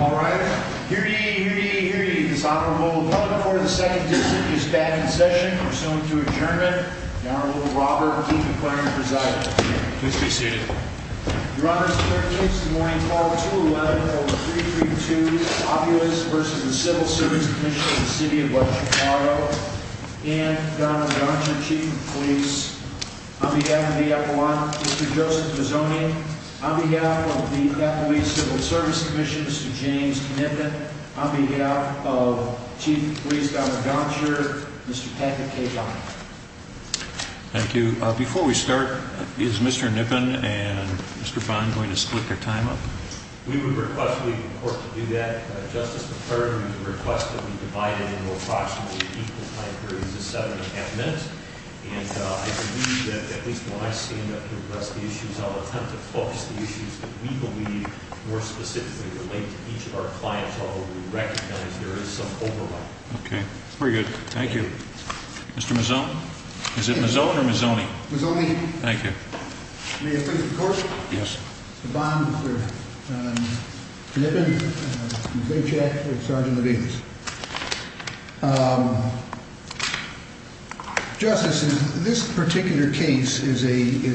Alright, hear ye, hear ye, hear ye, this honorable public for the 2nd District is back in session. Pursuant to adjournment, the Honorable Robert E. McLaren presides. Please be seated. Your Honor, it's a pleasure to introduce this morning's call to order, Order No. 332, Opulence v. Civil Service Comm'n of the City of Chicago. And, the Honorable Johnson, Chief of Police. On behalf of the F1, Mr. Joseph Pozzoni. On behalf of the F1 Civil Service Comm'n, Mr. James Knippen. On behalf of Chief of Police Dr. Doncher, Mr. Patrick K. Bond. Thank you. Before we start, is Mr. Knippen and Mr. Bond going to split their time up? We would request the legal court to do that. Justice Deferred would request that we divide it into approximately equal time periods of seven and a half minutes. And, I believe that at least when I stand up here with the rest of the issues, I'll attempt to focus the issues that we believe more specifically relate to each of our clients, although we recognize there is some overlap. Okay. Very good. Thank you. Mr. Mazzone? Is it Mazzone or Mazzoni? Mazzoni. Thank you. May it please the Court? Yes. Mr. Bond, Mr. Knippen, Ms. Hitchat, and Sgt. Levine. Justice, this particular case is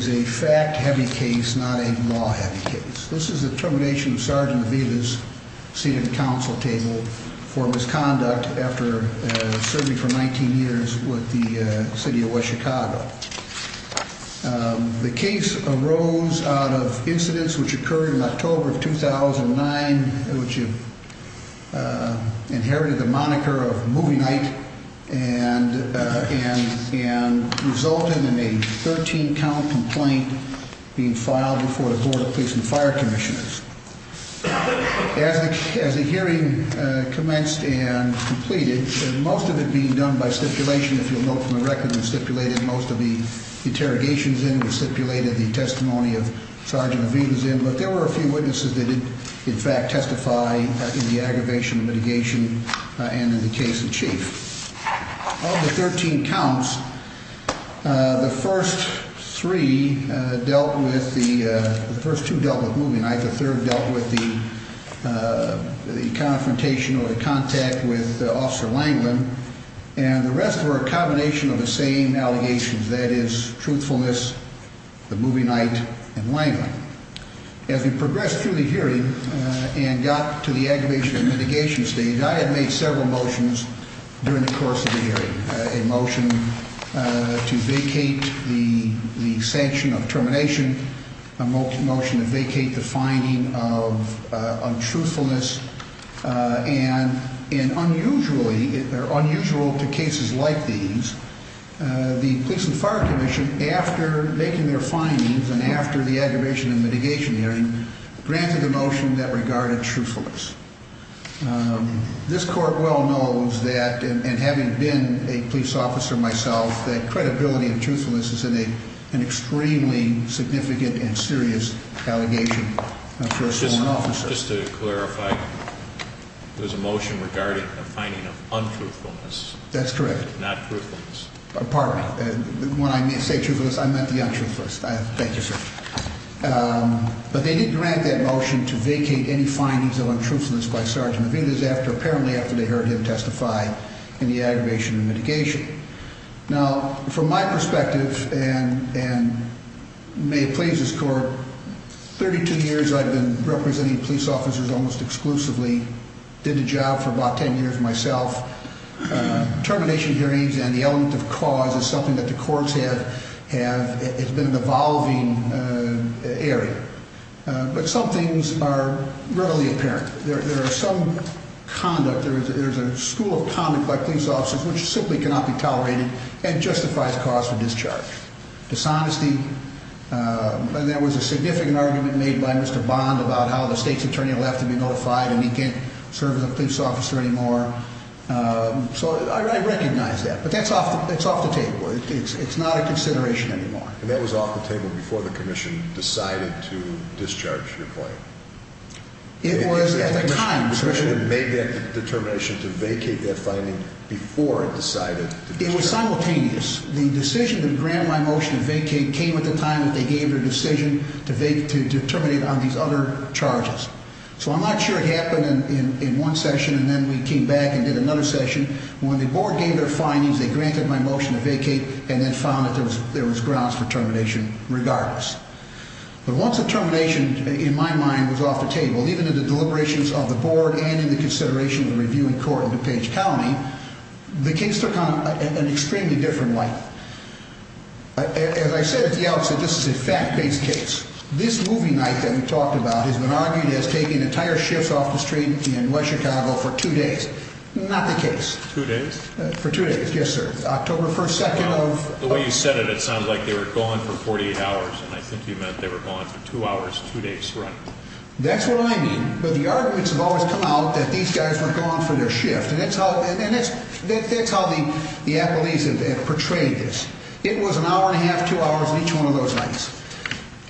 a fact-heavy case, not a law-heavy case. This is the termination of Sgt. Levine's seat at the counsel table for misconduct after serving for 19 years with the City of West Chicago. The case arose out of incidents which occurred in October of 2009, which inherited the moniker of movie night and resulted in a 13-count complaint being filed before the Board of Police and Fire Commissioners. As the hearing commenced and completed, most of it being done by stipulation, if you'll note from the record, we stipulated most of the interrogations in, we stipulated the testimony of Sgt. Levine's in, but there were a few witnesses that did, in fact, testify in the aggravation of litigation and in the case in chief. Of the 13 counts, the first two dealt with movie night, the third dealt with the confrontation or the contact with Officer Langland, and the rest were a combination of the same allegations, that is, truthfulness, the movie night, and Langland. As we progressed through the hearing and got to the aggravation of litigation stage, I had made several motions during the course of the hearing, a motion to vacate the sanction of termination, a motion to vacate the finding of untruthfulness, and unusually, they're unusual to cases like these, the Police and Fire Commission, after making their findings and after the aggravation and mitigation hearing, granted a motion that regarded truthfulness. This Court well knows that, and having been a police officer myself, that credibility and truthfulness is an extremely significant and serious allegation for a sworn officer. Just to clarify, there's a motion regarding the finding of untruthfulness. That's correct. Not truthfulness. Pardon me. When I say truthfulness, I meant the untruthfulness. Thank you, sir. But they didn't grant that motion to vacate any findings of untruthfulness by Sgt. Levine, after they heard him testify in the aggravation and mitigation. Now, from my perspective, and may it please this Court, 32 years I've been representing police officers almost exclusively, did the job for about 10 years myself. Termination hearings and the element of cause is something that the courts have been an evolving area. But some things are rarely apparent. There is some conduct, there is a school of conduct by police officers which simply cannot be tolerated and justifies cause for discharge. Dishonesty. There was a significant argument made by Mr. Bond about how the state's attorney will have to be notified and he can't serve as a police officer anymore. So I recognize that. But that's off the table. It's not a consideration anymore. And that was off the table before the Commission decided to discharge your claim. It was at the time. The Commission made that determination to vacate that finding before it decided to discharge it. It was simultaneous. The decision to grant my motion to vacate came at the time that they gave their decision to terminate on these other charges. So I'm not sure it happened in one session and then we came back and did another session. When the Board gave their findings, they granted my motion to vacate and then found that there was grounds for termination regardless. But once the termination, in my mind, was off the table, even in the deliberations of the Board and in the consideration of the reviewing court in DuPage County, the case took on an extremely different light. As I said at the outset, this is a fact-based case. This movie night that we talked about has been argued as taking entire shifts off the street in West Chicago for two days. Not the case. Two days? For two days, yes, sir. October 1st, 2nd of… The way you said it, it sounded like they were gone for 48 hours, and I think you meant they were gone for two hours, two days, right? That's what I mean. But the arguments have always come out that these guys were gone for their shift, and that's how the appellees have portrayed this. It was an hour and a half, two hours on each one of those nights.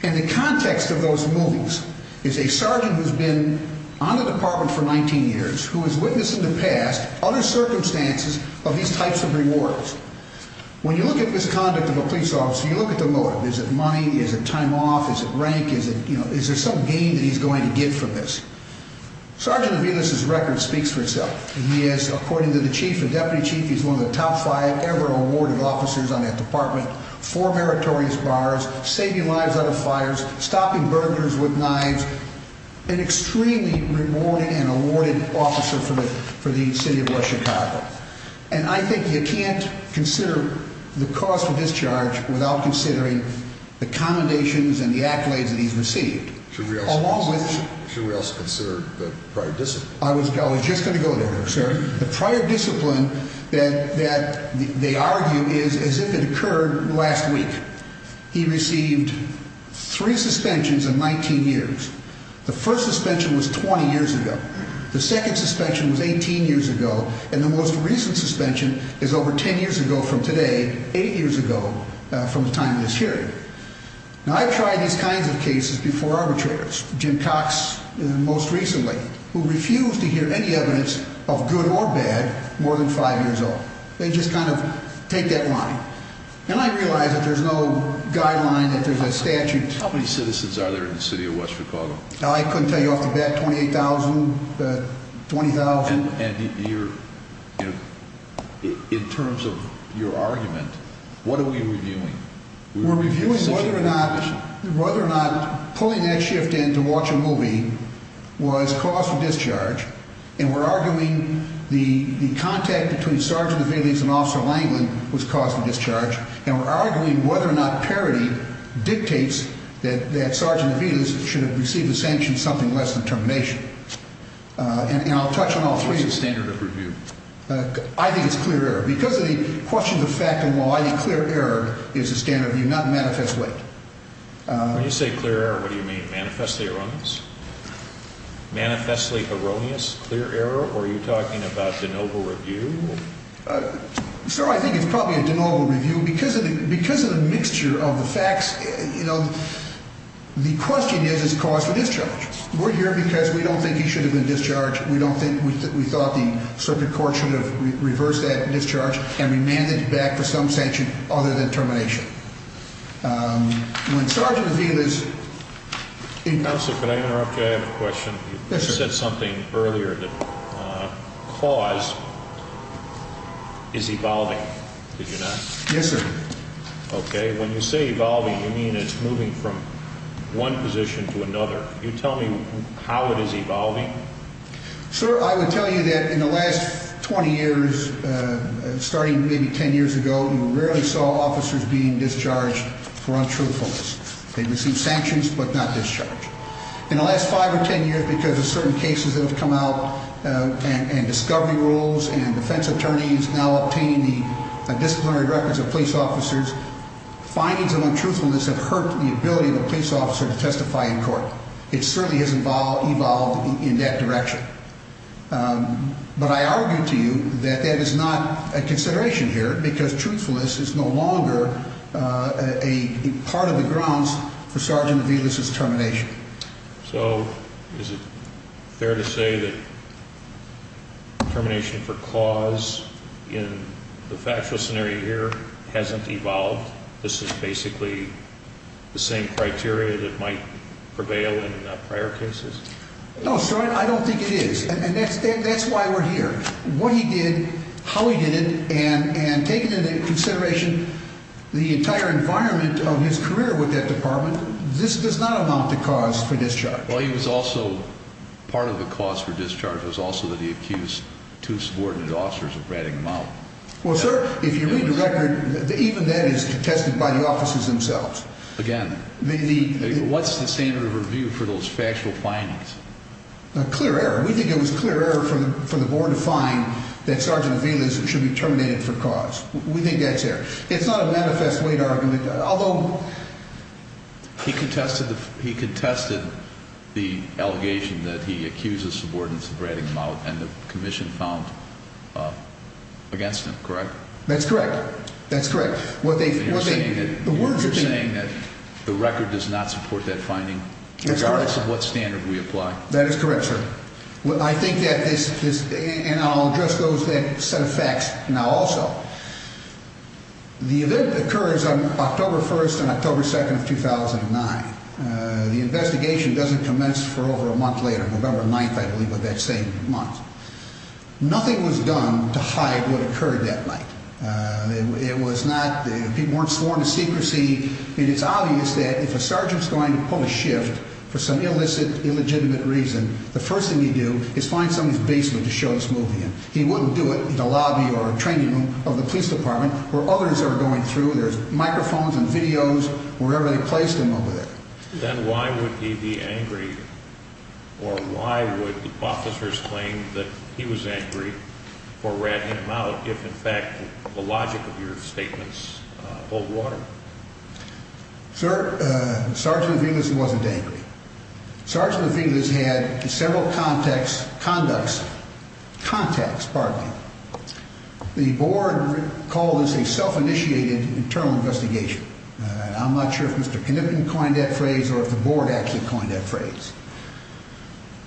And the context of those movies is a sergeant who's been on the Department for 19 years who has witnessed in the past other circumstances of these types of rewards. When you look at misconduct of a police officer, you look at the motive. Is it money? Is it time off? Is it rank? Is there some gain that he's going to get from this? Sergeant Aviles' record speaks for itself. He is, according to the chief, the deputy chief, he's one of the top five ever awarded officers on that department, four meritorious bars, saving lives out of fires, stopping burglars with knives, an extremely rewarded and awarded officer for the city of West Chicago. And I think you can't consider the cost of discharge without considering the commendations and the accolades that he's received. Should we also consider the prior discipline? I was just going to go there, sir. The prior discipline that they argue is as if it occurred last week. He received three suspensions in 19 years. The first suspension was 20 years ago. The second suspension was 18 years ago. And the most recent suspension is over 10 years ago from today, eight years ago from the time of this hearing. Now, I've tried these kinds of cases before arbitrators, Jim Cox most recently, who refused to hear any evidence of good or bad more than five years old. They just kind of take that line. And I realize that there's no guideline, that there's a statute. How many citizens are there in the city of West Chicago? I couldn't tell you off the bat, 28,000, 20,000. And in terms of your argument, what are we reviewing? We're reviewing whether or not pulling that shift in to watch a movie was cause for discharge, and we're arguing the contact between Sergeant Aviles and Officer Langland was cause for discharge, and we're arguing whether or not parity dictates that Sergeant Aviles should have received a sanction something less than termination. And I'll touch on all three. What's the standard of review? I think it's clear error. Because of the questions of fact and law, I think clear error is the standard review, not manifest weight. When you say clear error, what do you mean, manifestly erroneous? Manifestly erroneous, clear error, or are you talking about de novo review? Sir, I think it's probably a de novo review. Because of the mixture of the facts, you know, the question is, is it cause for discharge? We're here because we don't think he should have been discharged. We thought the circuit court should have reversed that discharge and remanded it back for some sanction other than termination. When Sergeant Aviles is in court. Counselor, could I interrupt? I have a question. Yes, sir. You said something earlier that cause is evolving. Did you not? Yes, sir. Okay. When you say evolving, you mean it's moving from one position to another. Can you tell me how it is evolving? Sir, I would tell you that in the last 20 years, starting maybe 10 years ago, you rarely saw officers being discharged for untruthfulness. They received sanctions but not discharged. In the last 5 or 10 years, because of certain cases that have come out and discovery rules and defense attorneys now obtaining the disciplinary records of police officers, findings of untruthfulness have hurt the ability of a police officer to testify in court. It certainly has evolved in that direction. But I argue to you that that is not a consideration here because truthfulness is no longer a part of the grounds for Sergeant Aviles' termination. Okay. So is it fair to say that termination for cause in the factual scenario here hasn't evolved? This is basically the same criteria that might prevail in prior cases? No, sir. I don't think it is. And that's why we're here. What he did, how he did it, and taking into consideration the entire environment of his career with that department, this does not amount to cause for discharge. Well, he was also part of the cause for discharge. It was also that he accused two subordinate officers of ratting him out. Well, sir, if you read the record, even that is contested by the officers themselves. Again, what's the standard of review for those factual findings? Clear error. We think it was clear error for the board to find that Sergeant Aviles should be terminated for cause. We think that's error. It's not a manifest weight argument, although he contested the allegation that he accused the subordinates of ratting him out, and the commission found against him, correct? That's correct. That's correct. You're saying that the record does not support that finding regardless of what standard we apply? That is correct, sir. I think that this – and I'll address those set of facts now also. The event occurs on October 1st and October 2nd of 2009. The investigation doesn't commence for over a month later, November 9th, I believe, of that same month. Nothing was done to hide what occurred that night. It was not – people weren't sworn to secrecy, and it's obvious that if a sergeant's going to pull a shift for some illicit, illegitimate reason, the first thing you do is find somebody's basement to show this movie in. He wouldn't do it in a lobby or a training room of the police department where others are going through. There's microphones and videos wherever they placed him over there. Then why would he be angry, or why would the officers claim that he was angry for ratting him out if, in fact, the logic of your statements boiled water? Sir, Sergeant Aviles wasn't angry. Sergeant Aviles had several contacts – conducts – contacts, pardon me. The board called this a self-initiated internal investigation. I'm not sure if Mr. Knippen coined that phrase or if the board actually coined that phrase.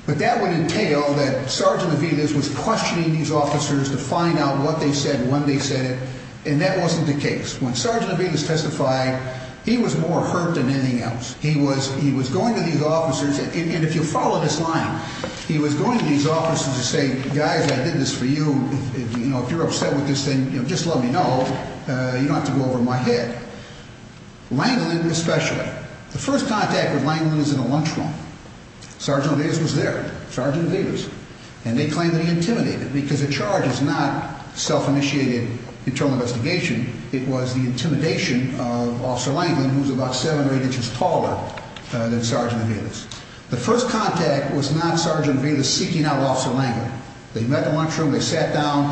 But that would entail that Sergeant Aviles was questioning these officers to find out what they said, when they said it, and that wasn't the case. When Sergeant Aviles testified, he was more hurt than anything else. He was going to these officers, and if you follow this line, he was going to these officers to say, Guys, I did this for you. If you're upset with this thing, just let me know. You don't have to go over my head. Langland especially. The first contact with Langland was in a lunchroom. Sergeant Aviles was there. Sergeant Aviles. And they claimed that he intimidated, because a charge is not self-initiated internal investigation. It was the intimidation of Officer Langland, who was about seven or eight inches taller than Sergeant Aviles. The first contact was not Sergeant Aviles seeking out Officer Langland. They met in the lunchroom. They sat down.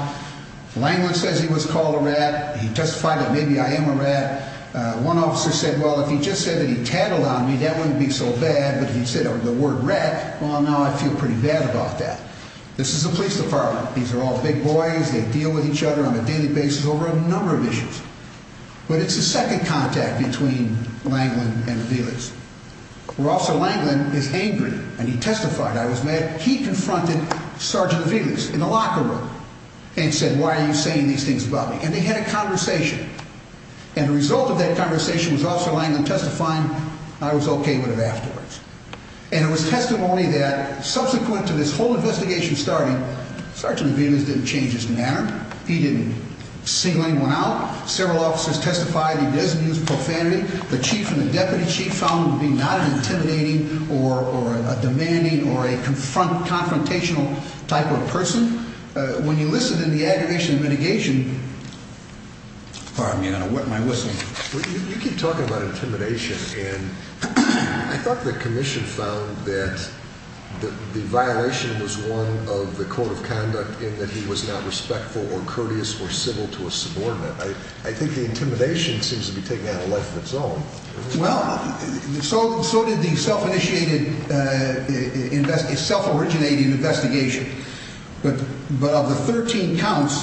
Langland says he was called a rat. He testified that maybe I am a rat. One officer said, well, if he just said that he tattled on me, that wouldn't be so bad. But he said the word rat, well, now I feel pretty bad about that. This is the police department. These are all big boys. They deal with each other on a daily basis over a number of issues. But it's the second contact between Langland and Aviles. Officer Langland is angry, and he testified. He confronted Sergeant Aviles in the locker room and said, why are you saying these things about me? And they had a conversation. And the result of that conversation was Officer Langland testifying, I was OK with it afterwards. And it was testimony that subsequent to this whole investigation starting, Sergeant Aviles didn't change his manner. He didn't single anyone out. Several officers testified he doesn't use profanity. The chief and the deputy chief found him to be not an intimidating or a demanding or a confrontational type of person. When you listen in the aggregation and mitigation, pardon me, Anna, what am I listening to? You keep talking about intimidation, and I thought the commission found that the violation was one of the code of conduct in that he was not respectful or courteous or civil to a subordinate. I think the intimidation seems to be taking on a life of its own. Well, so did the self-initiated, self-originated investigation. But of the 13 counts,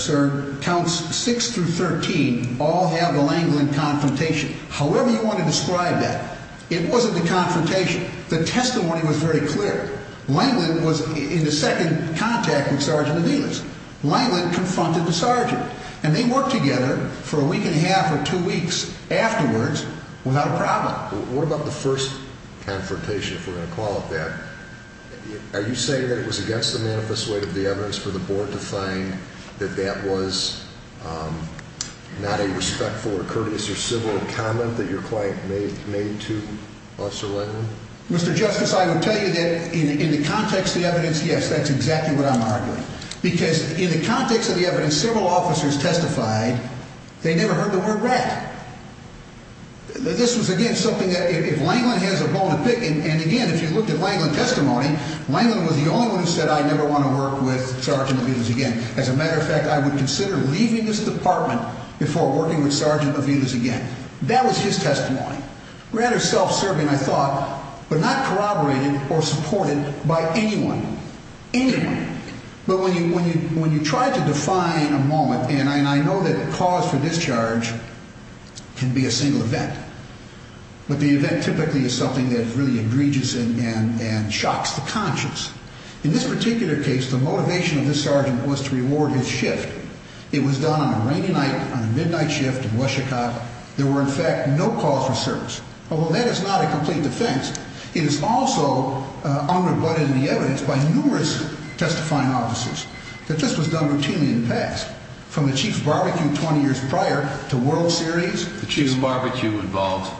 sir, counts 6 through 13 all have a Langland confrontation. However you want to describe that, it wasn't the confrontation. The testimony was very clear. Langland was in the second contact with Sergeant Aviles. Langland confronted the sergeant. And they worked together for a week and a half or two weeks afterwards without a problem. What about the first confrontation, if we're going to call it that? Are you saying that it was against the manifest way of the evidence for the board to find that that was not a respectful or courteous or civil comment that your client made to us or Langland? Mr. Justice, I would tell you that in the context of the evidence, yes, that's exactly what I'm arguing. Because in the context of the evidence, several officers testified they never heard the word rat. This was, again, something that if Langland has a bone to pick in, Langland was the only one who said I never want to work with Sergeant Aviles again. As a matter of fact, I would consider leaving this department before working with Sergeant Aviles again. That was his testimony. Rather self-serving, I thought, but not corroborated or supported by anyone, anyone. But when you try to define a moment, and I know that cause for discharge can be a single event, but the event typically is something that's really egregious and shocks the conscience. In this particular case, the motivation of this sergeant was to reward his shift. It was done on a rainy night, on a midnight shift in West Chicago. There were, in fact, no calls for service. Although that is not a complete defense, it is also undercut in the evidence by numerous testifying officers that this was done routinely in the past, from the Chief's Barbecue 20 years prior to World Series. The Chief's Barbecue involved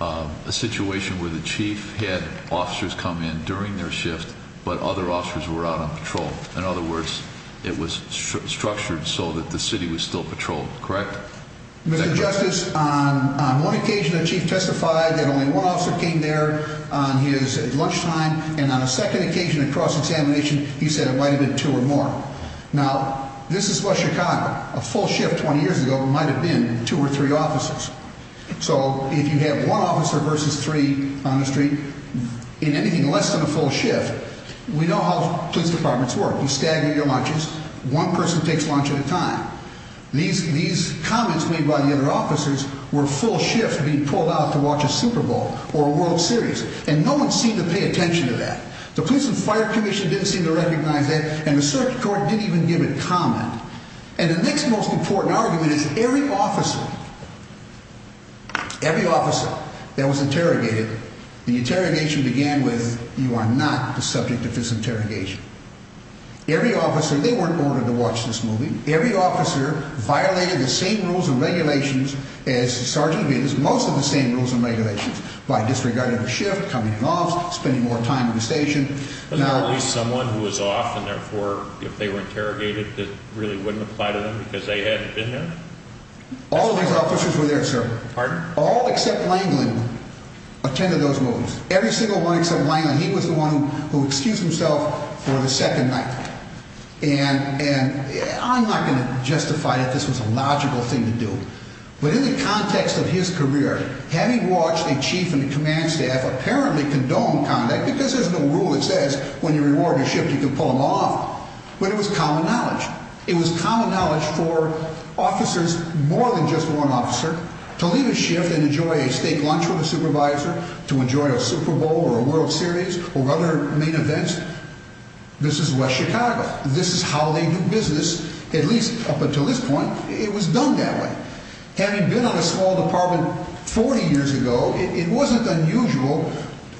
a situation where the Chief had officers come in during their shift, but other officers were out on patrol. In other words, it was structured so that the city was still patrolled, correct? Mr. Justice, on one occasion the Chief testified that only one officer came there on his lunchtime, and on a second occasion in cross-examination, he said it might have been two or more. Now, this is West Chicago. A full shift 20 years ago might have been two or three officers. So if you have one officer versus three on the street, in anything less than a full shift, we know how police departments work. You stagger your lunches. One person takes lunch at a time. These comments made by the other officers were a full shift being pulled out to watch a Super Bowl or a World Series, and no one seemed to pay attention to that. The Police and Fire Commission didn't seem to recognize that, and the circuit court didn't even give a comment. And the next most important argument is every officer, every officer that was interrogated, the interrogation began with, you are not the subject of this interrogation. Every officer, and they weren't ordered to watch this movie, every officer violated the same rules and regulations as the sergeant did, because most of the same rules and regulations, by disregarding the shift, coming in off, spending more time in the station. Was there at least someone who was off and, therefore, if they were interrogated, that really wouldn't apply to them because they hadn't been there? All of these officers were there, sir. Pardon? All except Langland attended those movies. Every single one except Langland. He was the one who excused himself for the second night. And I'm not going to justify that this was a logical thing to do. But in the context of his career, having watched a chief and a command staff apparently condone conduct, because there's no rule that says when you reward a shift you can pull them off, but it was common knowledge. It was common knowledge for officers, more than just one officer, to leave a shift and enjoy a steak lunch with a supervisor, to enjoy a Super Bowl or a World Series or other main events. This is West Chicago. This is how they do business, at least up until this point, it was done that way. Having been on a small department 40 years ago, it wasn't unusual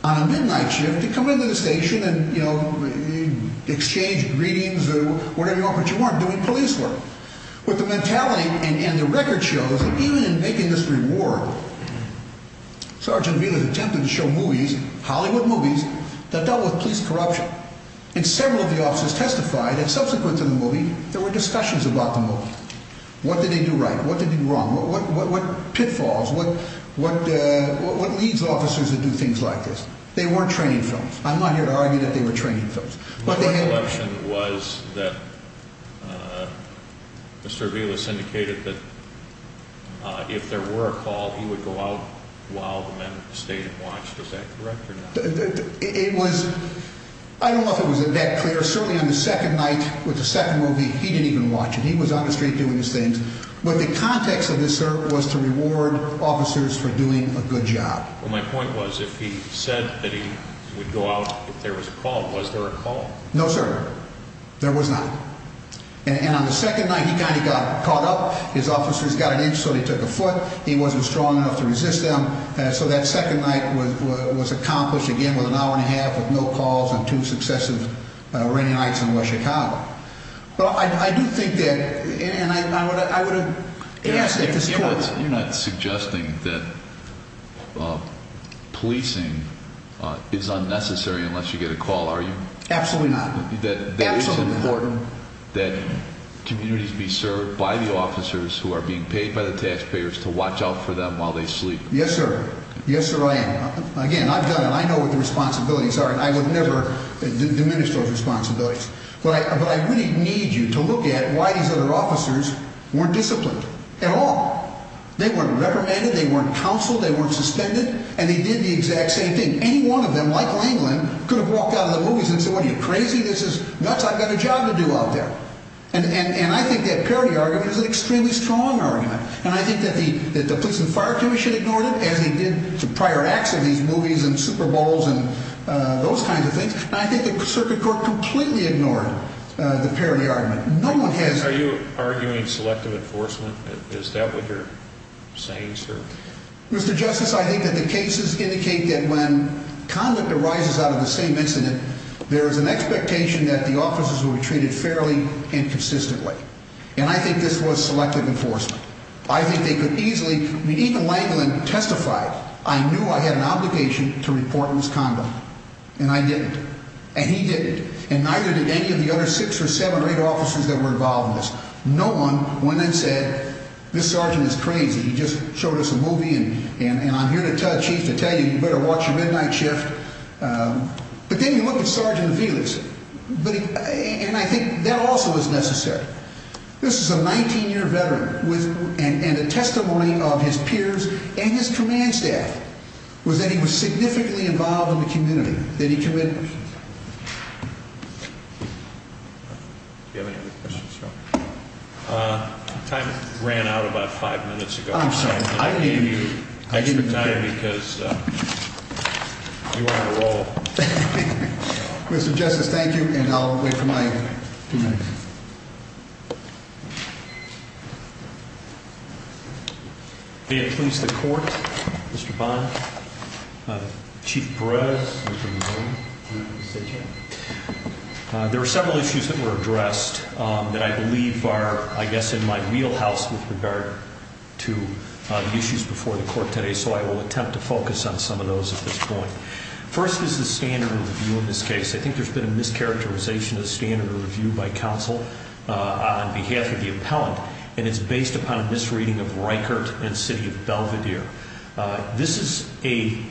on a midnight shift to come into the station and, you know, exchange greetings or whatever you want, but you weren't doing police work. But the mentality and the record shows that even in making this reward, Sergeant Wheeler attempted to show movies, Hollywood movies, that dealt with police corruption. And several of the officers testified that subsequent to the movie, there were discussions about the movie. What did they do right? What did they do wrong? What pitfalls? What leads officers to do things like this? They weren't training films. I'm not here to argue that they were training films. My recollection was that Mr. Wheeler indicated that if there were a call, he would go out while the men stayed and watched. Is that correct or not? It was—I don't know if it was that clear. Certainly on the second night with the second movie, he didn't even watch it. He was on the street doing his thing. But the context of this, sir, was to reward officers for doing a good job. Well, my point was if he said that he would go out if there was a call, was there a call? No, sir. There was not. And on the second night, he kind of got caught up. His officers got an inch so he took a foot. He wasn't strong enough to resist them. So that second night was accomplished, again, with an hour and a half with no calls and two successive rainy nights in West Chicago. Well, I do think that—and I would have— You're not suggesting that policing is unnecessary unless you get a call, are you? Absolutely not. That it's important that communities be served by the officers who are being paid by the taxpayers to watch out for them while they sleep. Yes, sir. Yes, sir, I am. Again, I've done it. I know what the responsibilities are, and I would never diminish those responsibilities. But I really need you to look at why these other officers weren't disciplined at all. They weren't reprimanded. They weren't counseled. They weren't suspended. And they did the exact same thing. Any one of them, like Langland, could have walked out of the movies and said, What are you, crazy? This is nuts. I've got a job to do out there. And I think that parody argument is an extremely strong argument. And I think that the Police and Fire Commission ignored it, as they did the prior acts of these movies and Super Bowls and those kinds of things. And I think the Circuit Court completely ignored the parody argument. Are you arguing selective enforcement? Is that what you're saying, sir? Mr. Justice, I think that the cases indicate that when conduct arises out of the same incident, there is an expectation that the officers will be treated fairly and consistently. And I think this was selective enforcement. I think they could easily, I mean, even Langland testified, I knew I had an obligation to report in this condo, and I didn't. And he didn't. And neither did any of the other six or seven or eight officers that were involved in this. No one went and said, This sergeant is crazy. He just showed us a movie, and I'm here to tell you, you better watch your midnight shift. But then you look at Sergeant Felix, and I think that also is necessary. This is a 19-year veteran, and a testimony of his peers and his command staff was that he was significantly involved in the community. Did he commit? Do you have any other questions? Time ran out about five minutes ago. I'm sorry. I gave you extra time because you were on a roll. Mr. Justice, thank you, and I'll wait for my two minutes. May it please the court, Mr. Bond, Chief Perez, Mr. Mazzoli. There are several issues that were addressed that I believe are, I guess, in my wheelhouse with regard to the issues before the court today, so I will attempt to focus on some of those at this point. First is the standard review in this case. I think there's been a mischaracterization of the standard review by counsel on behalf of the appellant, and it's based upon a misreading of Reichert and City of Belvedere. This is a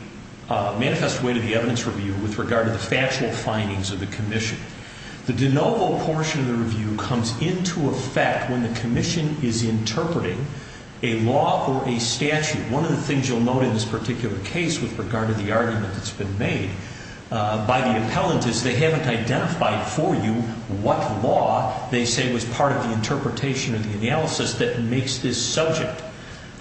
manifest way to the evidence review with regard to the factual findings of the commission. The de novo portion of the review comes into effect when the commission is interpreting a law or a statute. One of the things you'll note in this particular case with regard to the argument that's been made by the appellant is they haven't identified for you what law they say was part of the interpretation or the analysis that makes this subject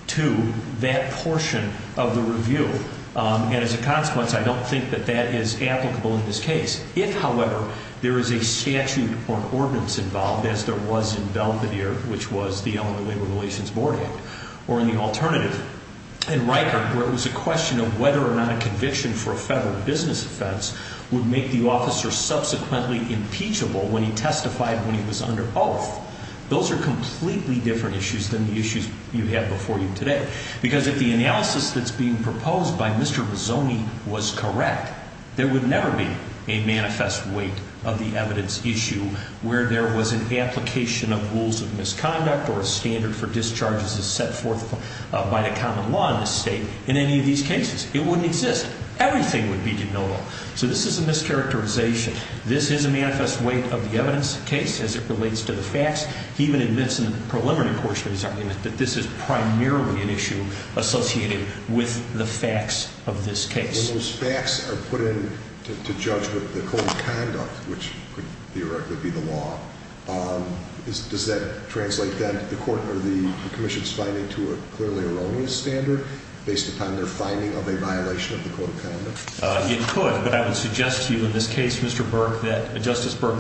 to that portion of the review, and as a consequence, I don't think that that is applicable in this case. If, however, there is a statute or an ordinance involved, as there was in Belvedere, which was the Illinois Labor Relations Board Act, or in the alternative in Reichert where it was a question of whether or not a conviction for a federal business offense would make the officer subsequently impeachable when he testified when he was under oath, those are completely different issues than the issues you have before you today because if the analysis that's being proposed by Mr. Rizzoni was correct, there would never be a manifest weight of the evidence issue where there was an application of rules of misconduct or a standard for discharges as set forth by the common law in this state in any of these cases. It wouldn't exist. Everything would be denotable. So this is a mischaracterization. This is a manifest weight of the evidence case as it relates to the facts. He even admits in the preliminary portion of his argument that this is primarily an issue associated with the facts of this case. When those facts are put in to judge with the code of conduct, which could theoretically be the law, does that translate then to the court or the commission's finding to a clearly erroneous standard based upon their finding of a violation of the code of conduct? It could, but I would suggest to you in this case, Justice Burke,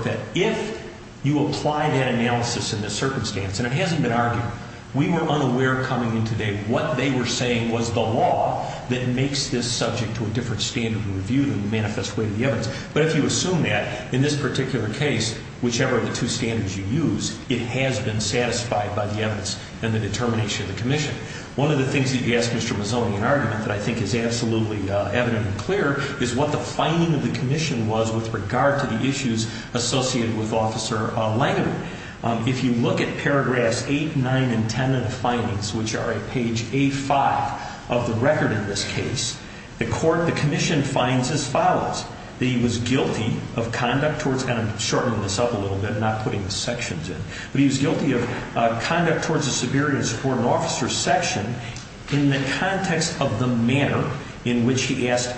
that if you apply that analysis in this circumstance, and it hasn't been argued, we were unaware coming in today what they were saying was the law that makes this subject to a different standard of review than the manifest weight of the evidence. But if you assume that, in this particular case, whichever of the two standards you use, it has been satisfied by the evidence and the determination of the commission. One of the things that you ask Mr. Mazzoni in argument that I think is absolutely evident and clear is what the finding of the commission was with regard to the issues associated with Officer Langevin. If you look at paragraphs 8, 9, and 10 of the findings, which are at page A5 of the record in this case, the commission finds as follows, that he was guilty of conduct towards, and I'm going to shorten this up a little bit, I'm not putting the sections in, but he was guilty of conduct towards the severity and support of an officer's section in the context of the manner in which he asked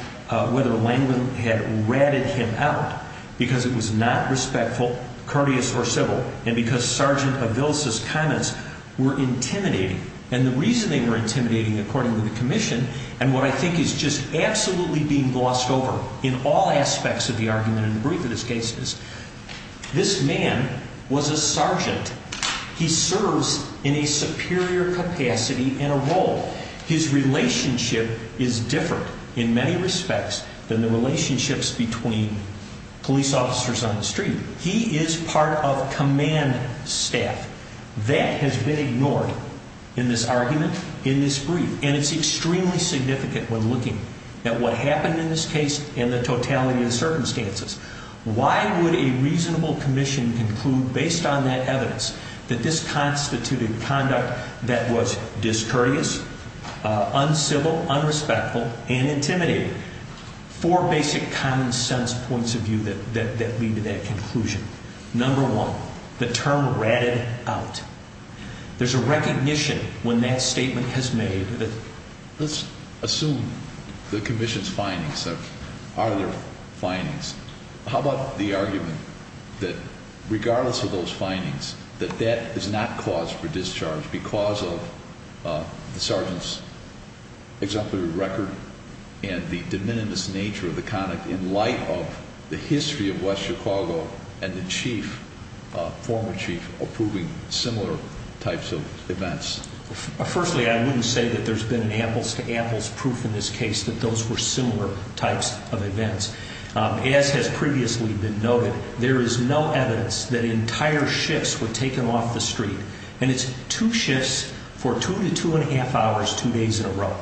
whether Langevin had ratted him out because it was not respectful, courteous, or civil, and because Sergeant Aviles' comments were intimidating. And the reason they were intimidating, according to the commission, and what I think is just absolutely being glossed over in all aspects of the argument in the brief of this case, is this man was a sergeant. He serves in a superior capacity and a role. His relationship is different in many respects than the relationships between police officers on the street. He is part of command staff. That has been ignored in this argument in this brief, and it's extremely significant when looking at what happened in this case and the totality of the circumstances. Why would a reasonable commission conclude, based on that evidence, that this constituted conduct that was discourteous, uncivil, unrespectful, and intimidating? Four basic common-sense points of view that lead to that conclusion. Number one, the term ratted out. There's a recognition when that statement is made. Let's assume the commission's findings are their findings. How about the argument that, regardless of those findings, that that is not cause for discharge because of the sergeant's exemplary record and the de minimis nature of the conduct in light of the history of West Chicago and the chief, former chief, approving similar types of events? Firstly, I wouldn't say that there's been an apples-to-apples proof in this case that those were similar types of events. As has previously been noted, there is no evidence that entire shifts were taken off the street, and it's two shifts for two to two-and-a-half hours, two days in a row.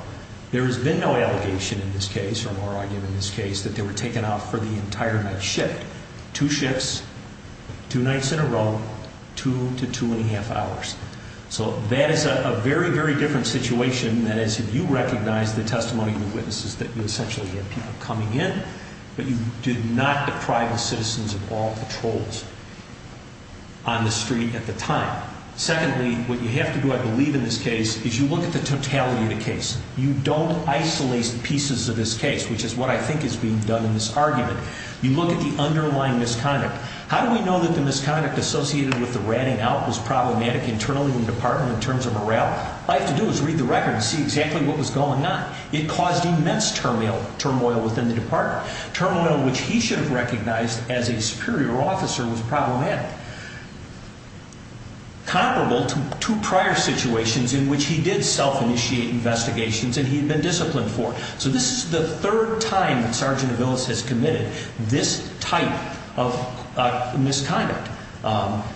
There has been no allegation in this case, or argument in this case, that they were taken off for the entire night shift. Two shifts, two nights in a row, two to two-and-a-half hours. So that is a very, very different situation. That is, if you recognize the testimony of the witnesses, that you essentially had people coming in, but you did not deprive the citizens of all patrols on the street at the time. Secondly, what you have to do, I believe, in this case, is you look at the totality of the case. You don't isolate pieces of this case, which is what I think is being done in this argument. You look at the underlying misconduct. How do we know that the misconduct associated with the ratting out was problematic internally in the department in terms of morale? All you have to do is read the record and see exactly what was going on. It caused immense turmoil within the department, turmoil which he should have recognized as a superior officer was problematic, comparable to prior situations in which he did self-initiate investigations and he had been disciplined for. So this is the third time that Sergeant Aviles has committed this type of misconduct.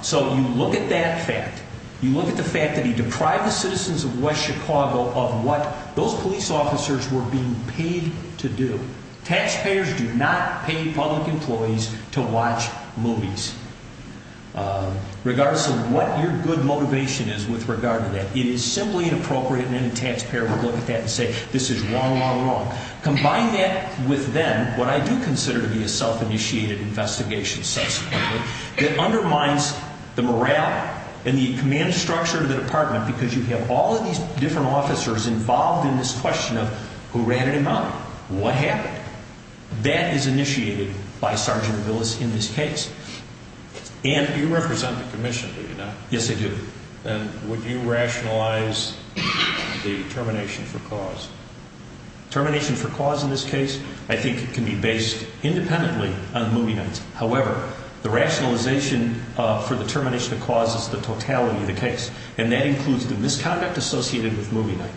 So you look at that fact. You look at the fact that he deprived the citizens of West Chicago of what those police officers were being paid to do. Taxpayers do not pay public employees to watch movies, regardless of what your good motivation is with regard to that. It is simply inappropriate and any taxpayer would look at that and say, this is wrong, wrong, wrong. Combine that with then what I do consider to be a self-initiated investigation subsequently that undermines the morale and the command structure of the department because you have all of these different officers involved in this question of who ratted him out, what happened? That is initiated by Sergeant Aviles in this case. And you represent the commission, do you not? Yes, I do. And would you rationalize the termination for cause? Termination for cause in this case, I think, can be based independently on the movie night. However, the rationalization for the termination of cause is the totality of the case. And that includes the misconduct associated with movie night,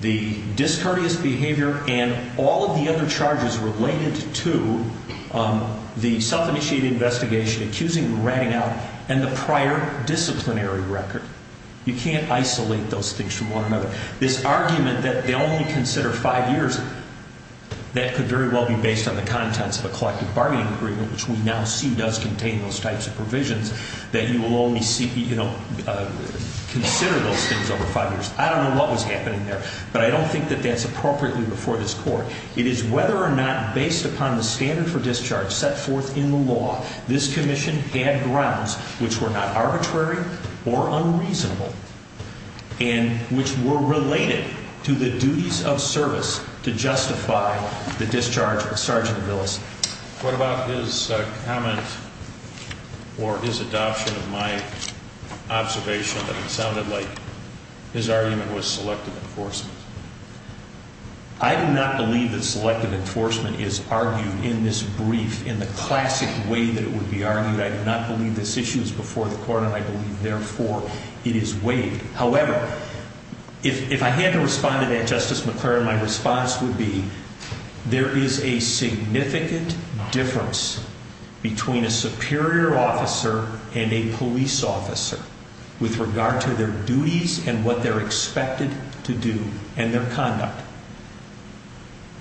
the discourteous behavior, and all of the other charges related to the self-initiated investigation, accusing him of ratting out, and the prior disciplinary record. You cannot isolate those things from one another. This argument that they only consider five years, that could very well be based on the contents of a collective bargaining agreement, which we now see does contain those types of provisions, that you will only consider those things over five years. I don't know what was happening there, but I don't think that that's appropriately before this court. It is whether or not, based upon the standard for discharge set forth in the law, this commission had grounds which were not arbitrary or unreasonable, and which were related to the duties of service to justify the discharge of Sergeant Willis. What about his comment, or his adoption of my observation that it sounded like his argument was selective enforcement? I do not believe that selective enforcement is argued in this brief in the classic way that it would be argued. I do not believe this issue is before the court, and I believe, therefore, it is weighed. However, if I had to respond to that, Justice McClaren, my response would be, and what they're expected to do, and their conduct.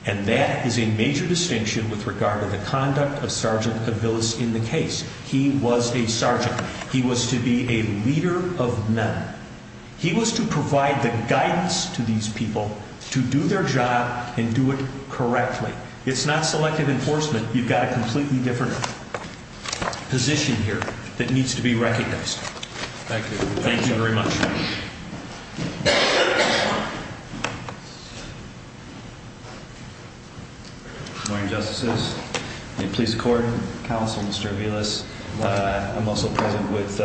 And that is a major distinction with regard to the conduct of Sergeant Willis in the case. He was a sergeant. He was to be a leader of men. He was to provide the guidance to these people to do their job and do it correctly. It's not selective enforcement. You've got a completely different position here that needs to be recognized. Thank you. Thank you very much. Good morning, Justices. In police accord, Counselor Mr. Aviles, I'm also present with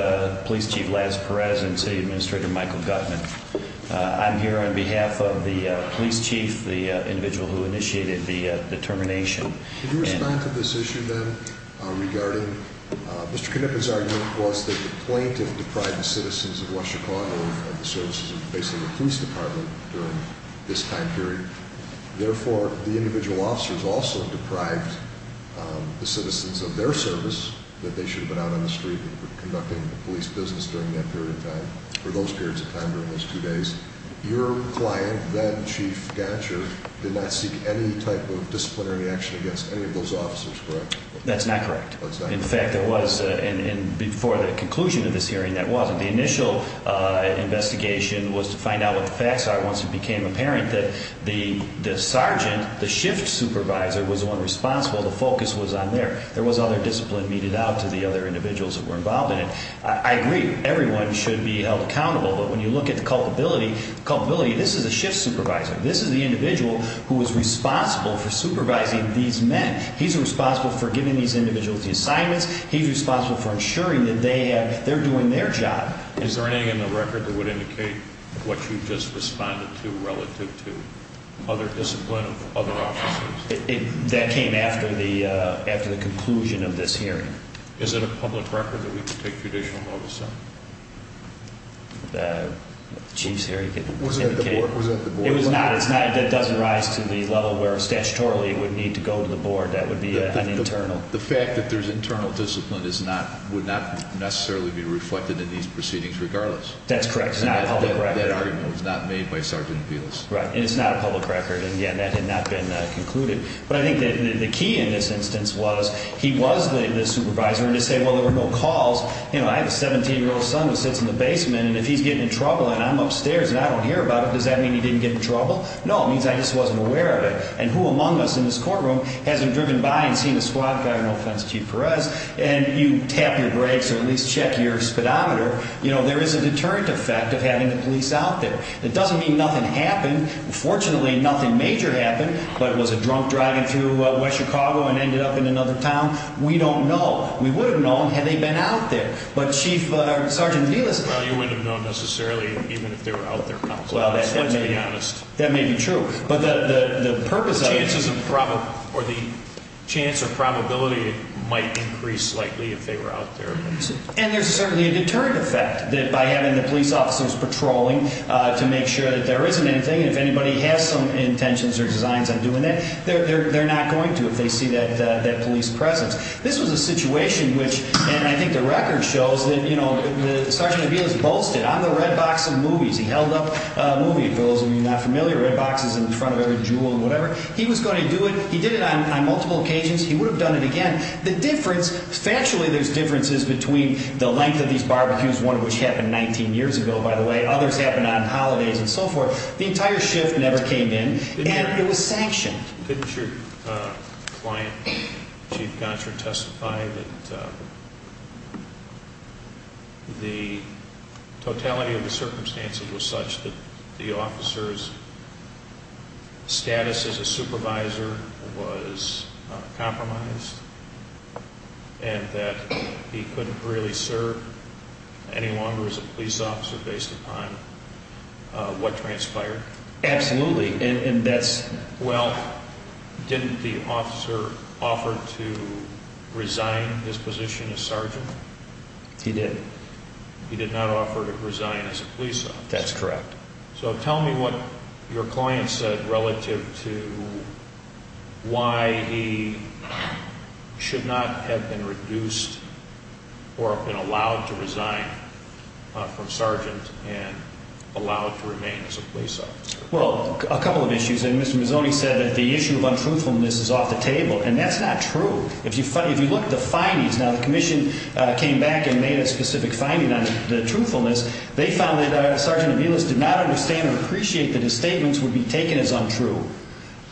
Police Chief Laz Perez and City Administrator Michael Gutman. I'm here on behalf of the police chief, the individual who initiated the determination. Could you respond to this issue, then, regarding Mr. Knippen's argument was that the plaintiff deprived the citizens of Washtenaw and the services of basically the police department during this time period. Therefore, the individual officers also deprived the citizens of their service that they should have been out on the street conducting the police business during that period of time, or those periods of time during those two days. Your client, then Chief Gatcher, did not seek any type of disciplinary action against any of those officers, correct? That's not correct. In fact, there was, and before the conclusion of this hearing, that wasn't. The initial investigation was to find out what the facts are once it became apparent that the sergeant, the shift supervisor, was the one responsible. The focus was on there. There was other discipline meted out to the other individuals that were involved in it. I agree, everyone should be held accountable, but when you look at the culpability, this is a shift supervisor. This is the individual who was responsible for supervising these men. He's responsible for giving these individuals the assignments. He's responsible for ensuring that they're doing their job. Is there anything in the record that would indicate what you just responded to relative to other discipline of other officers? That came after the conclusion of this hearing. Is it a public record that we can take judicial notice of? The Chief's hearing indicated it. Was it the board? It was not. It doesn't rise to the level where statutorily it would need to go to the board. That would be an internal. The fact that there's internal discipline would not necessarily be reflected in these proceedings regardless. That's correct. It's not a public record. That argument was not made by Sergeant Velas. Right, and it's not a public record, and again, that had not been concluded. But I think the key in this instance was he was the supervisor, and to say, well, there were no calls. I have a 17-year-old son who sits in the basement, and if he's getting in trouble and I'm upstairs and I don't hear about it, does that mean he didn't get in trouble? No, it means I just wasn't aware of it. And who among us in this courtroom hasn't driven by and seen a squad car, no offense, Chief Perez, and you tap your brakes or at least check your speedometer, there is a deterrent effect of having the police out there. It doesn't mean nothing happened. Fortunately, nothing major happened. But was a drunk driving through West Chicago and ended up in another town? We don't know. We would have known had they been out there. But Chief Sergeant Velas... Well, you wouldn't have known necessarily even if they were out there, to be honest. Well, that may be true. But the purpose of it... The chance of probability might increase slightly if they were out there. And there's certainly a deterrent effect that by having the police officers patrolling to make sure that there isn't anything, and if anybody has some intentions or designs on doing that, they're not going to if they see that police presence. This was a situation which, and I think the record shows that, you know, Sergeant Velas boasted, on the Red Box of movies, he held up a movie, for those of you not familiar, Red Box is in front of every jewel and whatever. He was going to do it. He did it on multiple occasions. He would have done it again. And the difference, factually there's differences between the length of these barbecues, one of which happened 19 years ago, by the way. Others happened on holidays and so forth. The entire shift never came in, and it was sanctioned. Didn't your client, Chief Gonsher, testify that the totality of the circumstances was such that the officer's status as a supervisor was compromised, and that he couldn't really serve any longer as a police officer based upon what transpired? Absolutely. Well, didn't the officer offer to resign his position as sergeant? He did. He did not offer to resign as a police officer. That's correct. So tell me what your client said relative to why he should not have been reduced or have been allowed to resign from sergeant and allowed to remain as a police officer. Well, a couple of issues. And Mr. Mazzoni said that the issue of untruthfulness is off the table, and that's not true. If you look at the findings, now the commission came back and made a specific finding on the truthfulness. They found that Sergeant Aviles did not understand or appreciate that his statements would be taken as untrue.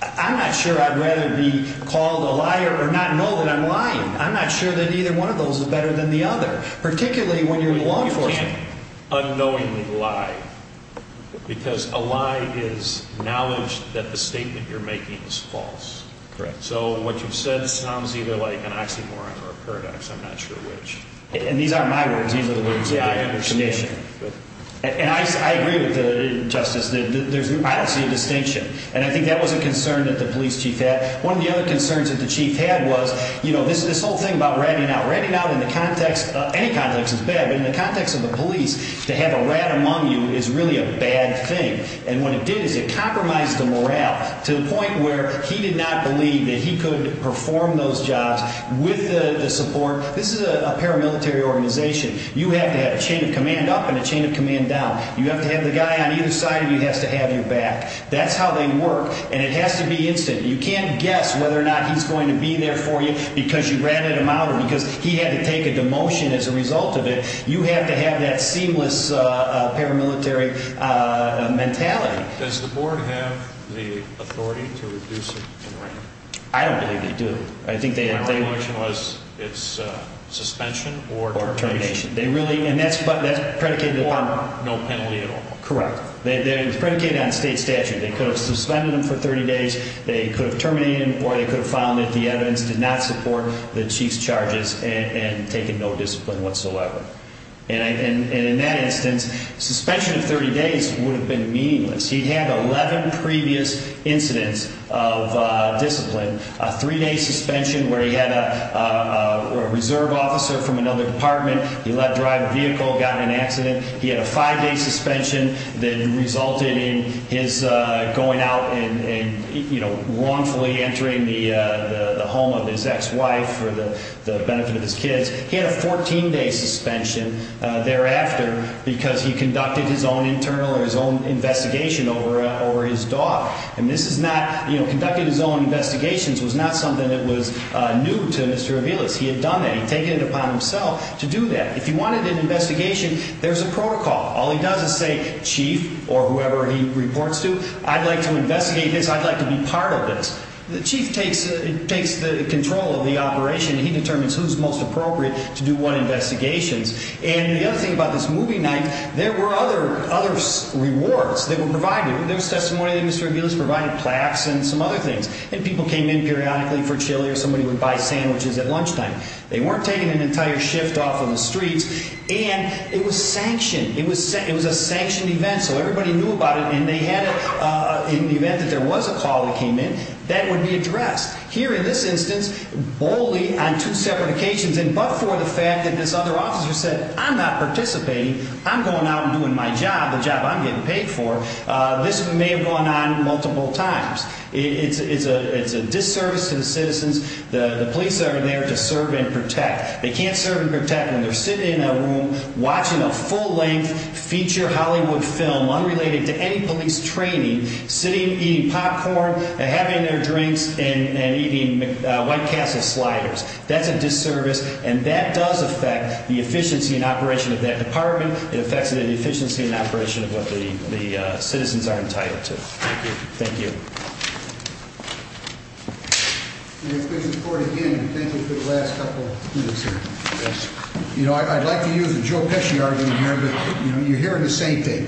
I'm not sure I'd rather be called a liar or not know that I'm lying. I'm not sure that either one of those is better than the other, particularly when you're in law enforcement. You can't unknowingly lie because a lie is knowledge that the statement you're making is false. Correct. So what you've said sounds either like an oxymoron or a paradox. I'm not sure which. And these aren't my words. These are the words that I understand. And I agree with Justice. I don't see a distinction. And I think that was a concern that the police chief had. One of the other concerns that the chief had was, you know, this whole thing about ratting out. Ratting out in the context of any context is bad, but in the context of the police, to have a rat among you is really a bad thing. And what it did is it compromised the morale to the point where he did not believe that he could perform those jobs with the support. This is a paramilitary organization. You have to have a chain of command up and a chain of command down. You have to have the guy on either side of you has to have your back. That's how they work, and it has to be instant. You can't guess whether or not he's going to be there for you because you ratted him out or because he had to take a demotion as a result of it. You have to have that seamless paramilitary mentality. Does the board have the authority to reduce it in rank? I don't believe they do. My only question was, it's suspension or termination. Or termination. And that's predicated upon? Or no penalty at all. Correct. It was predicated on state statute. They could have suspended him for 30 days. They could have terminated him, or they could have found that the evidence did not support the chief's charges and taken no discipline whatsoever. And in that instance, suspension of 30 days would have been meaningless. He had 11 previous incidents of discipline. A three-day suspension where he had a reserve officer from another department. He let drive a vehicle, got in an accident. He had a five-day suspension that resulted in his going out and, you know, wrongfully entering the home of his ex-wife for the benefit of his kids. He had a 14-day suspension thereafter because he conducted his own internal or his own investigation over his dog. And this is not, you know, conducting his own investigations was not something that was new to Mr. Aviles. He had done that. He had taken it upon himself to do that. If you wanted an investigation, there's a protocol. All he does is say, chief, or whoever he reports to, I'd like to investigate this, I'd like to be part of this. The chief takes the control of the operation. He determines who's most appropriate to do what investigations. And the other thing about this movie night, there were other rewards that were provided. There was testimony that Mr. Aviles provided plaques and some other things. And people came in periodically for chili or somebody would buy sandwiches at lunchtime. They weren't taking an entire shift off of the streets. And it was sanctioned. It was a sanctioned event, so everybody knew about it. In the event that there was a call that came in, that would be addressed. Here in this instance, boldly on two separate occasions and but for the fact that this other officer said, I'm not participating. I'm going out and doing my job, the job I'm getting paid for. This may have gone on multiple times. It's a disservice to the citizens. The police are there to serve and protect. They can't serve and protect when they're sitting in a room watching a full-length feature Hollywood film unrelated to any police training, sitting eating popcorn and having their drinks and eating White Castle sliders. That's a disservice. And that does affect the efficiency and operation of that department. It affects the efficiency and operation of what the citizens are entitled to. Thank you. Thank you. Thank you for the last couple minutes here. You know, I'd like to use a Joe Pesci argument here, but you're hearing the same thing.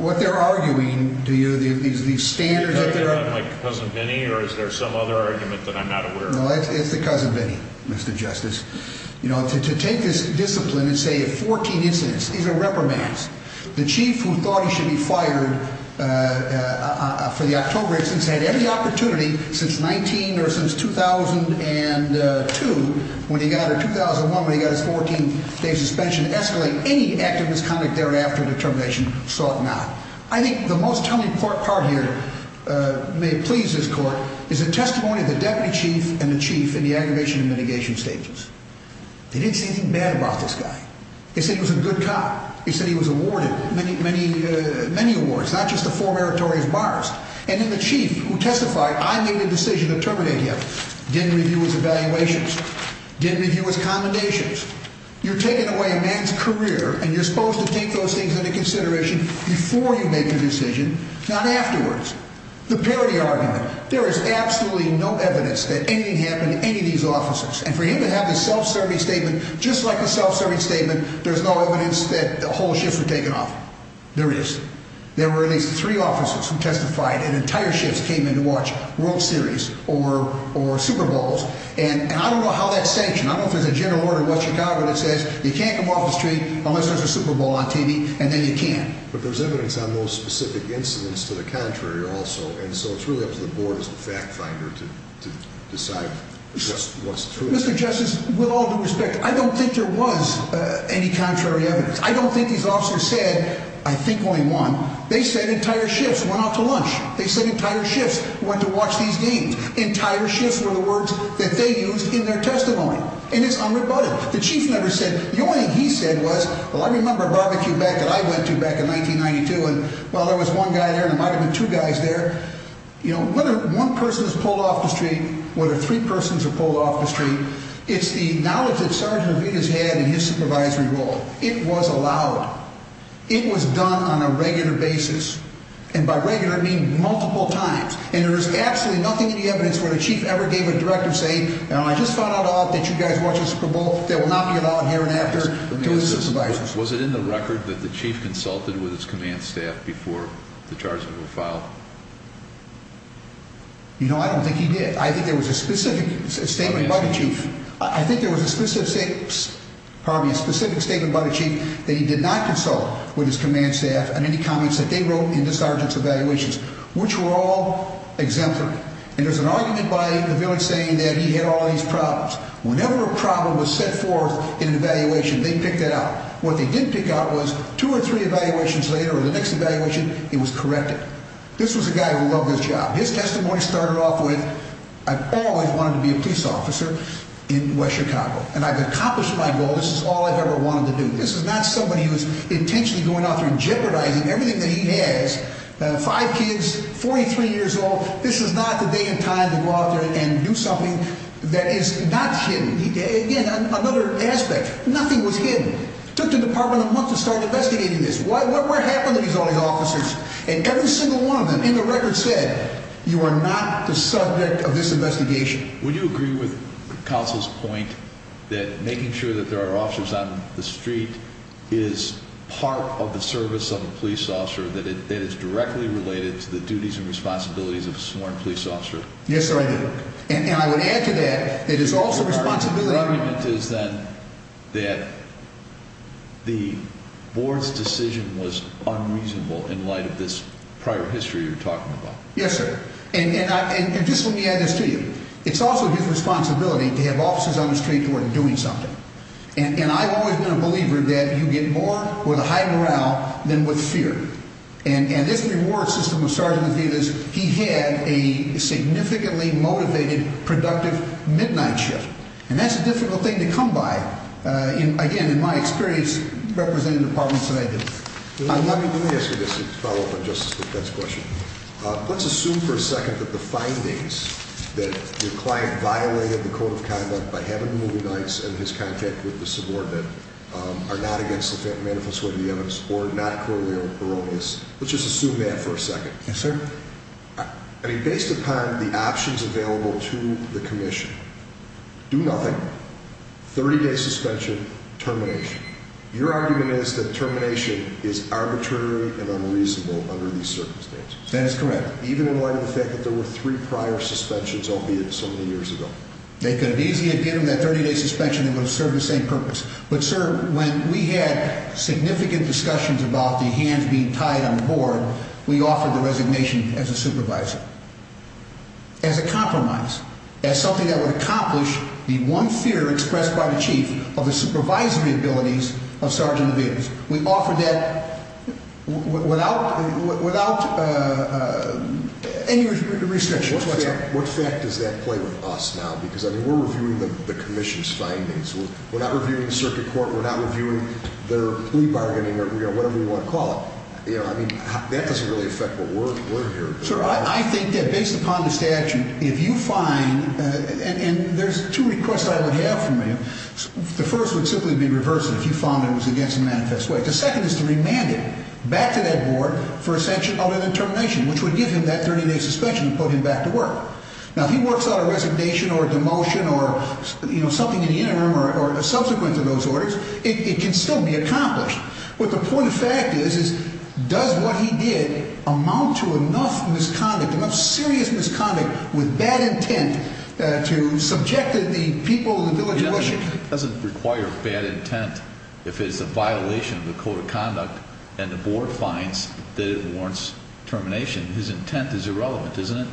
What they're arguing to you, these standards that there are. Like Cousin Vinnie, or is there some other argument that I'm not aware of? It's the Cousin Vinnie, Mr. Justice. You know, to take this discipline and say 14 incidents, these are reprimands. The chief who thought he should be fired for the October incidents had every opportunity since 19 or since 2002 when he got it, 2001 when he got his 14-day suspension, escalate any act of misconduct thereafter determination, saw it not. I think the most telling part here may please this court is the testimony of the deputy chief and the chief in the aggravation and mitigation stages. They didn't say anything bad about this guy. They said he was a good cop. They said he was awarded many awards, not just the four meritorious bars. And then the chief who testified, I made a decision to terminate him, didn't review his evaluations, didn't review his commendations. You're taking away a man's career, and you're supposed to take those things into consideration before you make a decision, not afterwards. The parody argument, there is absolutely no evidence that anything happened to any of these officers. And for him to have this self-serving statement, just like a self-serving statement, there's no evidence that the whole shift was taken off. There is. There were at least three officers who testified, and entire shifts came in to watch World Series or Super Bowls. And I don't know how that's sanctioned. I don't know if there's a general order in West Chicago that says you can't come off the street unless there's a Super Bowl on TV, and then you can't. But there's evidence on those specific incidents to the contrary also. And so it's really up to the board as the fact finder to decide what's true. Mr. Justice, with all due respect, I don't think there was any contrary evidence. I don't think these officers said, I think only one. They said entire shifts went out to lunch. They said entire shifts went to watch these games. Entire shifts were the words that they used in their testimony. And it's unrebutted. The only thing he said was, well, I remember a barbecue back that I went to back in 1992, and, well, there was one guy there, and there might have been two guys there. You know, whether one person is pulled off the street, whether three persons are pulled off the street, it's the knowledge that Sergeant Avita's had in his supervisory role. It was allowed. It was done on a regular basis. And by regular, I mean multiple times. And there is absolutely nothing in the evidence where the chief ever gave a directive saying, you know, I just found out all that you guys watch the Super Bowl. That will not be allowed here and after to the supervisors. Was it in the record that the chief consulted with his command staff before the charges were filed? You know, I don't think he did. I think there was a specific statement by the chief. I think there was a specific statement by the chief that he did not consult with his command staff on any comments that they wrote in the sergeant's evaluations, which were all exemplary. And there's an argument by the village saying that he had all these problems. Whenever a problem was set forth in an evaluation, they picked it out. What they didn't pick out was two or three evaluations later or the next evaluation, it was corrected. This was a guy who loved his job. His testimony started off with, I've always wanted to be a police officer in West Chicago, and I've accomplished my goal. This is all I've ever wanted to do. This is not somebody who is intentionally going out there and jeopardizing everything that he has. Five kids, 43 years old. This is not the day and time to go out there and do something that is not hidden. Again, another aspect, nothing was hidden. Took the department a month to start investigating this. What happened to these officers? And every single one of them in the record said, you are not the subject of this investigation. Would you agree with counsel's point that making sure that there are officers on the street is part of the service of a police officer, that it is directly related to the duties and responsibilities of a sworn police officer? Yes, sir, I do. And I would add to that, it is also responsibility. The argument is then that the board's decision was unreasonable in light of this prior history you're talking about. Yes, sir. And just let me add this to you. It's also his responsibility to have officers on the street who are doing something. And I've always been a believer that you get more with a high morale than with fear. And this reward system was started because he had a significantly motivated, productive midnight shift. And that's a difficult thing to come by. Again, in my experience, representing the departments that I do. Let me ask you this to follow up on Justice Lippett's question. Let's assume for a second that the findings that your client violated the code of conduct by having movie nights and his contact with the subordinate are not against the manifesto of the evidence or not corollary or erroneous. Let's just assume that for a second. Yes, sir. I mean, based upon the options available to the commission, do nothing, 30-day suspension, termination. Your argument is that termination is arbitrary and unreasonable under these circumstances. That is correct. Even in light of the fact that there were three prior suspensions, albeit so many years ago. They could have easily given him that 30-day suspension and it would have served the same purpose. But, sir, when we had significant discussions about the hands being tied on the board, we offered the resignation as a supervisor. As a compromise. As something that would accomplish the one fear expressed by the chief of the supervisory abilities of Sergeant Vives. We offered that without any restrictions. What fact does that play with us now? Because, I mean, we're reviewing the commission's findings. We're not reviewing the circuit court. We're not reviewing their plea bargaining or whatever you want to call it. You know, I mean, that doesn't really affect what we're hearing. Sir, I think that based upon the statute, if you find, and there's two requests I would have from him. The first would simply be reversed if you found it was against the manifest way. The second is to remand him back to that board for a sanction other than termination, which would give him that 30-day suspension and put him back to work. Now, if he works out a resignation or a demotion or, you know, something in the interim or subsequent to those orders, it can still be accomplished. But the point of fact is, does what he did amount to enough misconduct, enough serious misconduct with bad intent to subject the people of the village of Wishing? It doesn't require bad intent if it's a violation of the code of conduct and the board finds that it warrants termination. His intent is irrelevant, isn't it?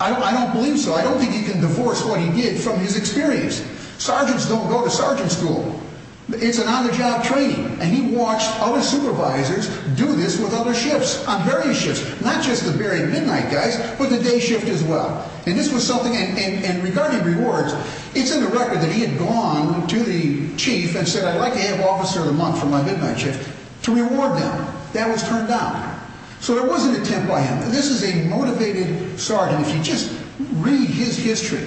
I don't believe so. I don't think he can divorce what he did from his experience. Sergeants don't go to sergeant school. It's an on-the-job training, and he watched other supervisors do this with other shifts, on various shifts, not just the very midnight guys, but the day shift as well. And this was something, and regarding rewards, it's in the record that he had gone to the chief and said, I'd like to have officer of the month for my midnight shift to reward them. That was turned down. So there was an intent by him. This is a motivated sergeant. If you just read his history,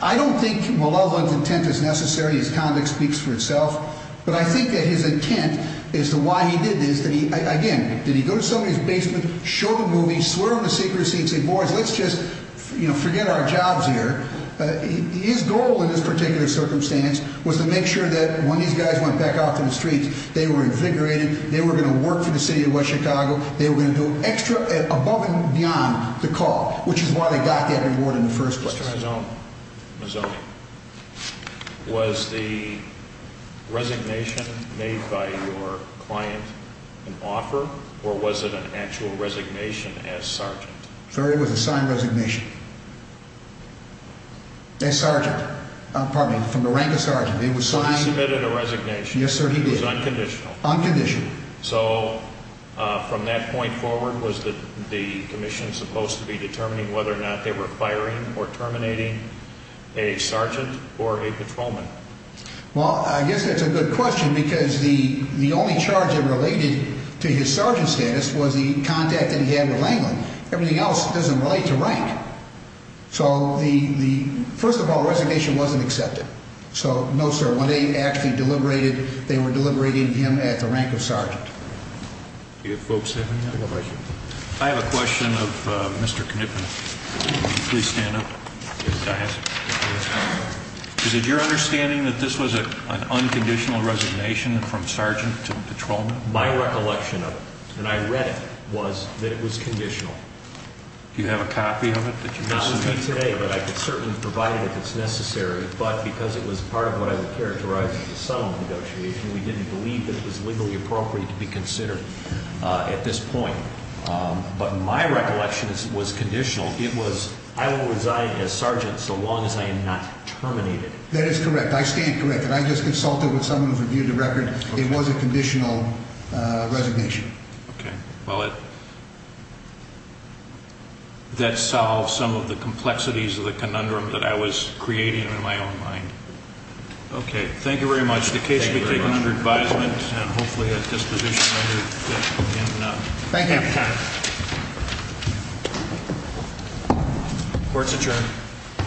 I don't think Mulalova's intent is necessary. His conduct speaks for itself. But I think that his intent as to why he did this, again, did he go to somebody's basement, show the movie, swear on the secrecy and say, boys, let's just forget our jobs here. His goal in this particular circumstance was to make sure that when these guys went back out to the streets, they were invigorated. They were going to work for the city of West Chicago. They were going to do extra above and beyond the call, which is why they got that reward in the first place. Mr. Mazzone, was the resignation made by your client an offer, or was it an actual resignation as sergeant? Sir, it was a signed resignation. As sergeant. Pardon me, from the rank of sergeant. He submitted a resignation. Yes, sir, he did. It was unconditional. Unconditional. So from that point forward, was the commission supposed to be determining whether or not they were firing or terminating a sergeant or a patrolman? Well, I guess that's a good question because the only charge that related to his sergeant status was the contact that he had with Langland. Everything else doesn't relate to rank. So first of all, the resignation wasn't accepted. So, no, sir, when they actually deliberated, they were deliberating him at the rank of sergeant. Do you have folks have any other questions? I have a question of Mr. Knitman. Would you please stand up? Is it your understanding that this was an unconditional resignation from sergeant to patrolman? My recollection of it, and I read it, was that it was conditional. Do you have a copy of it? Not with me today, but I could certainly provide it if it's necessary. But because it was part of what I would characterize as a sum of negotiations, we didn't believe that it was legally appropriate to be considered at this point. But my recollection was conditional. It was, I will resign as sergeant so long as I am not terminated. That is correct. I stand corrected. I just consulted with someone who reviewed the record. It was a conditional resignation. Okay. Well, that solves some of the complexities of the conundrum that I was creating in my own mind. Okay. Thank you very much. The case will be taken under advisement and hopefully at disposition later. Thank you. Court's adjourned.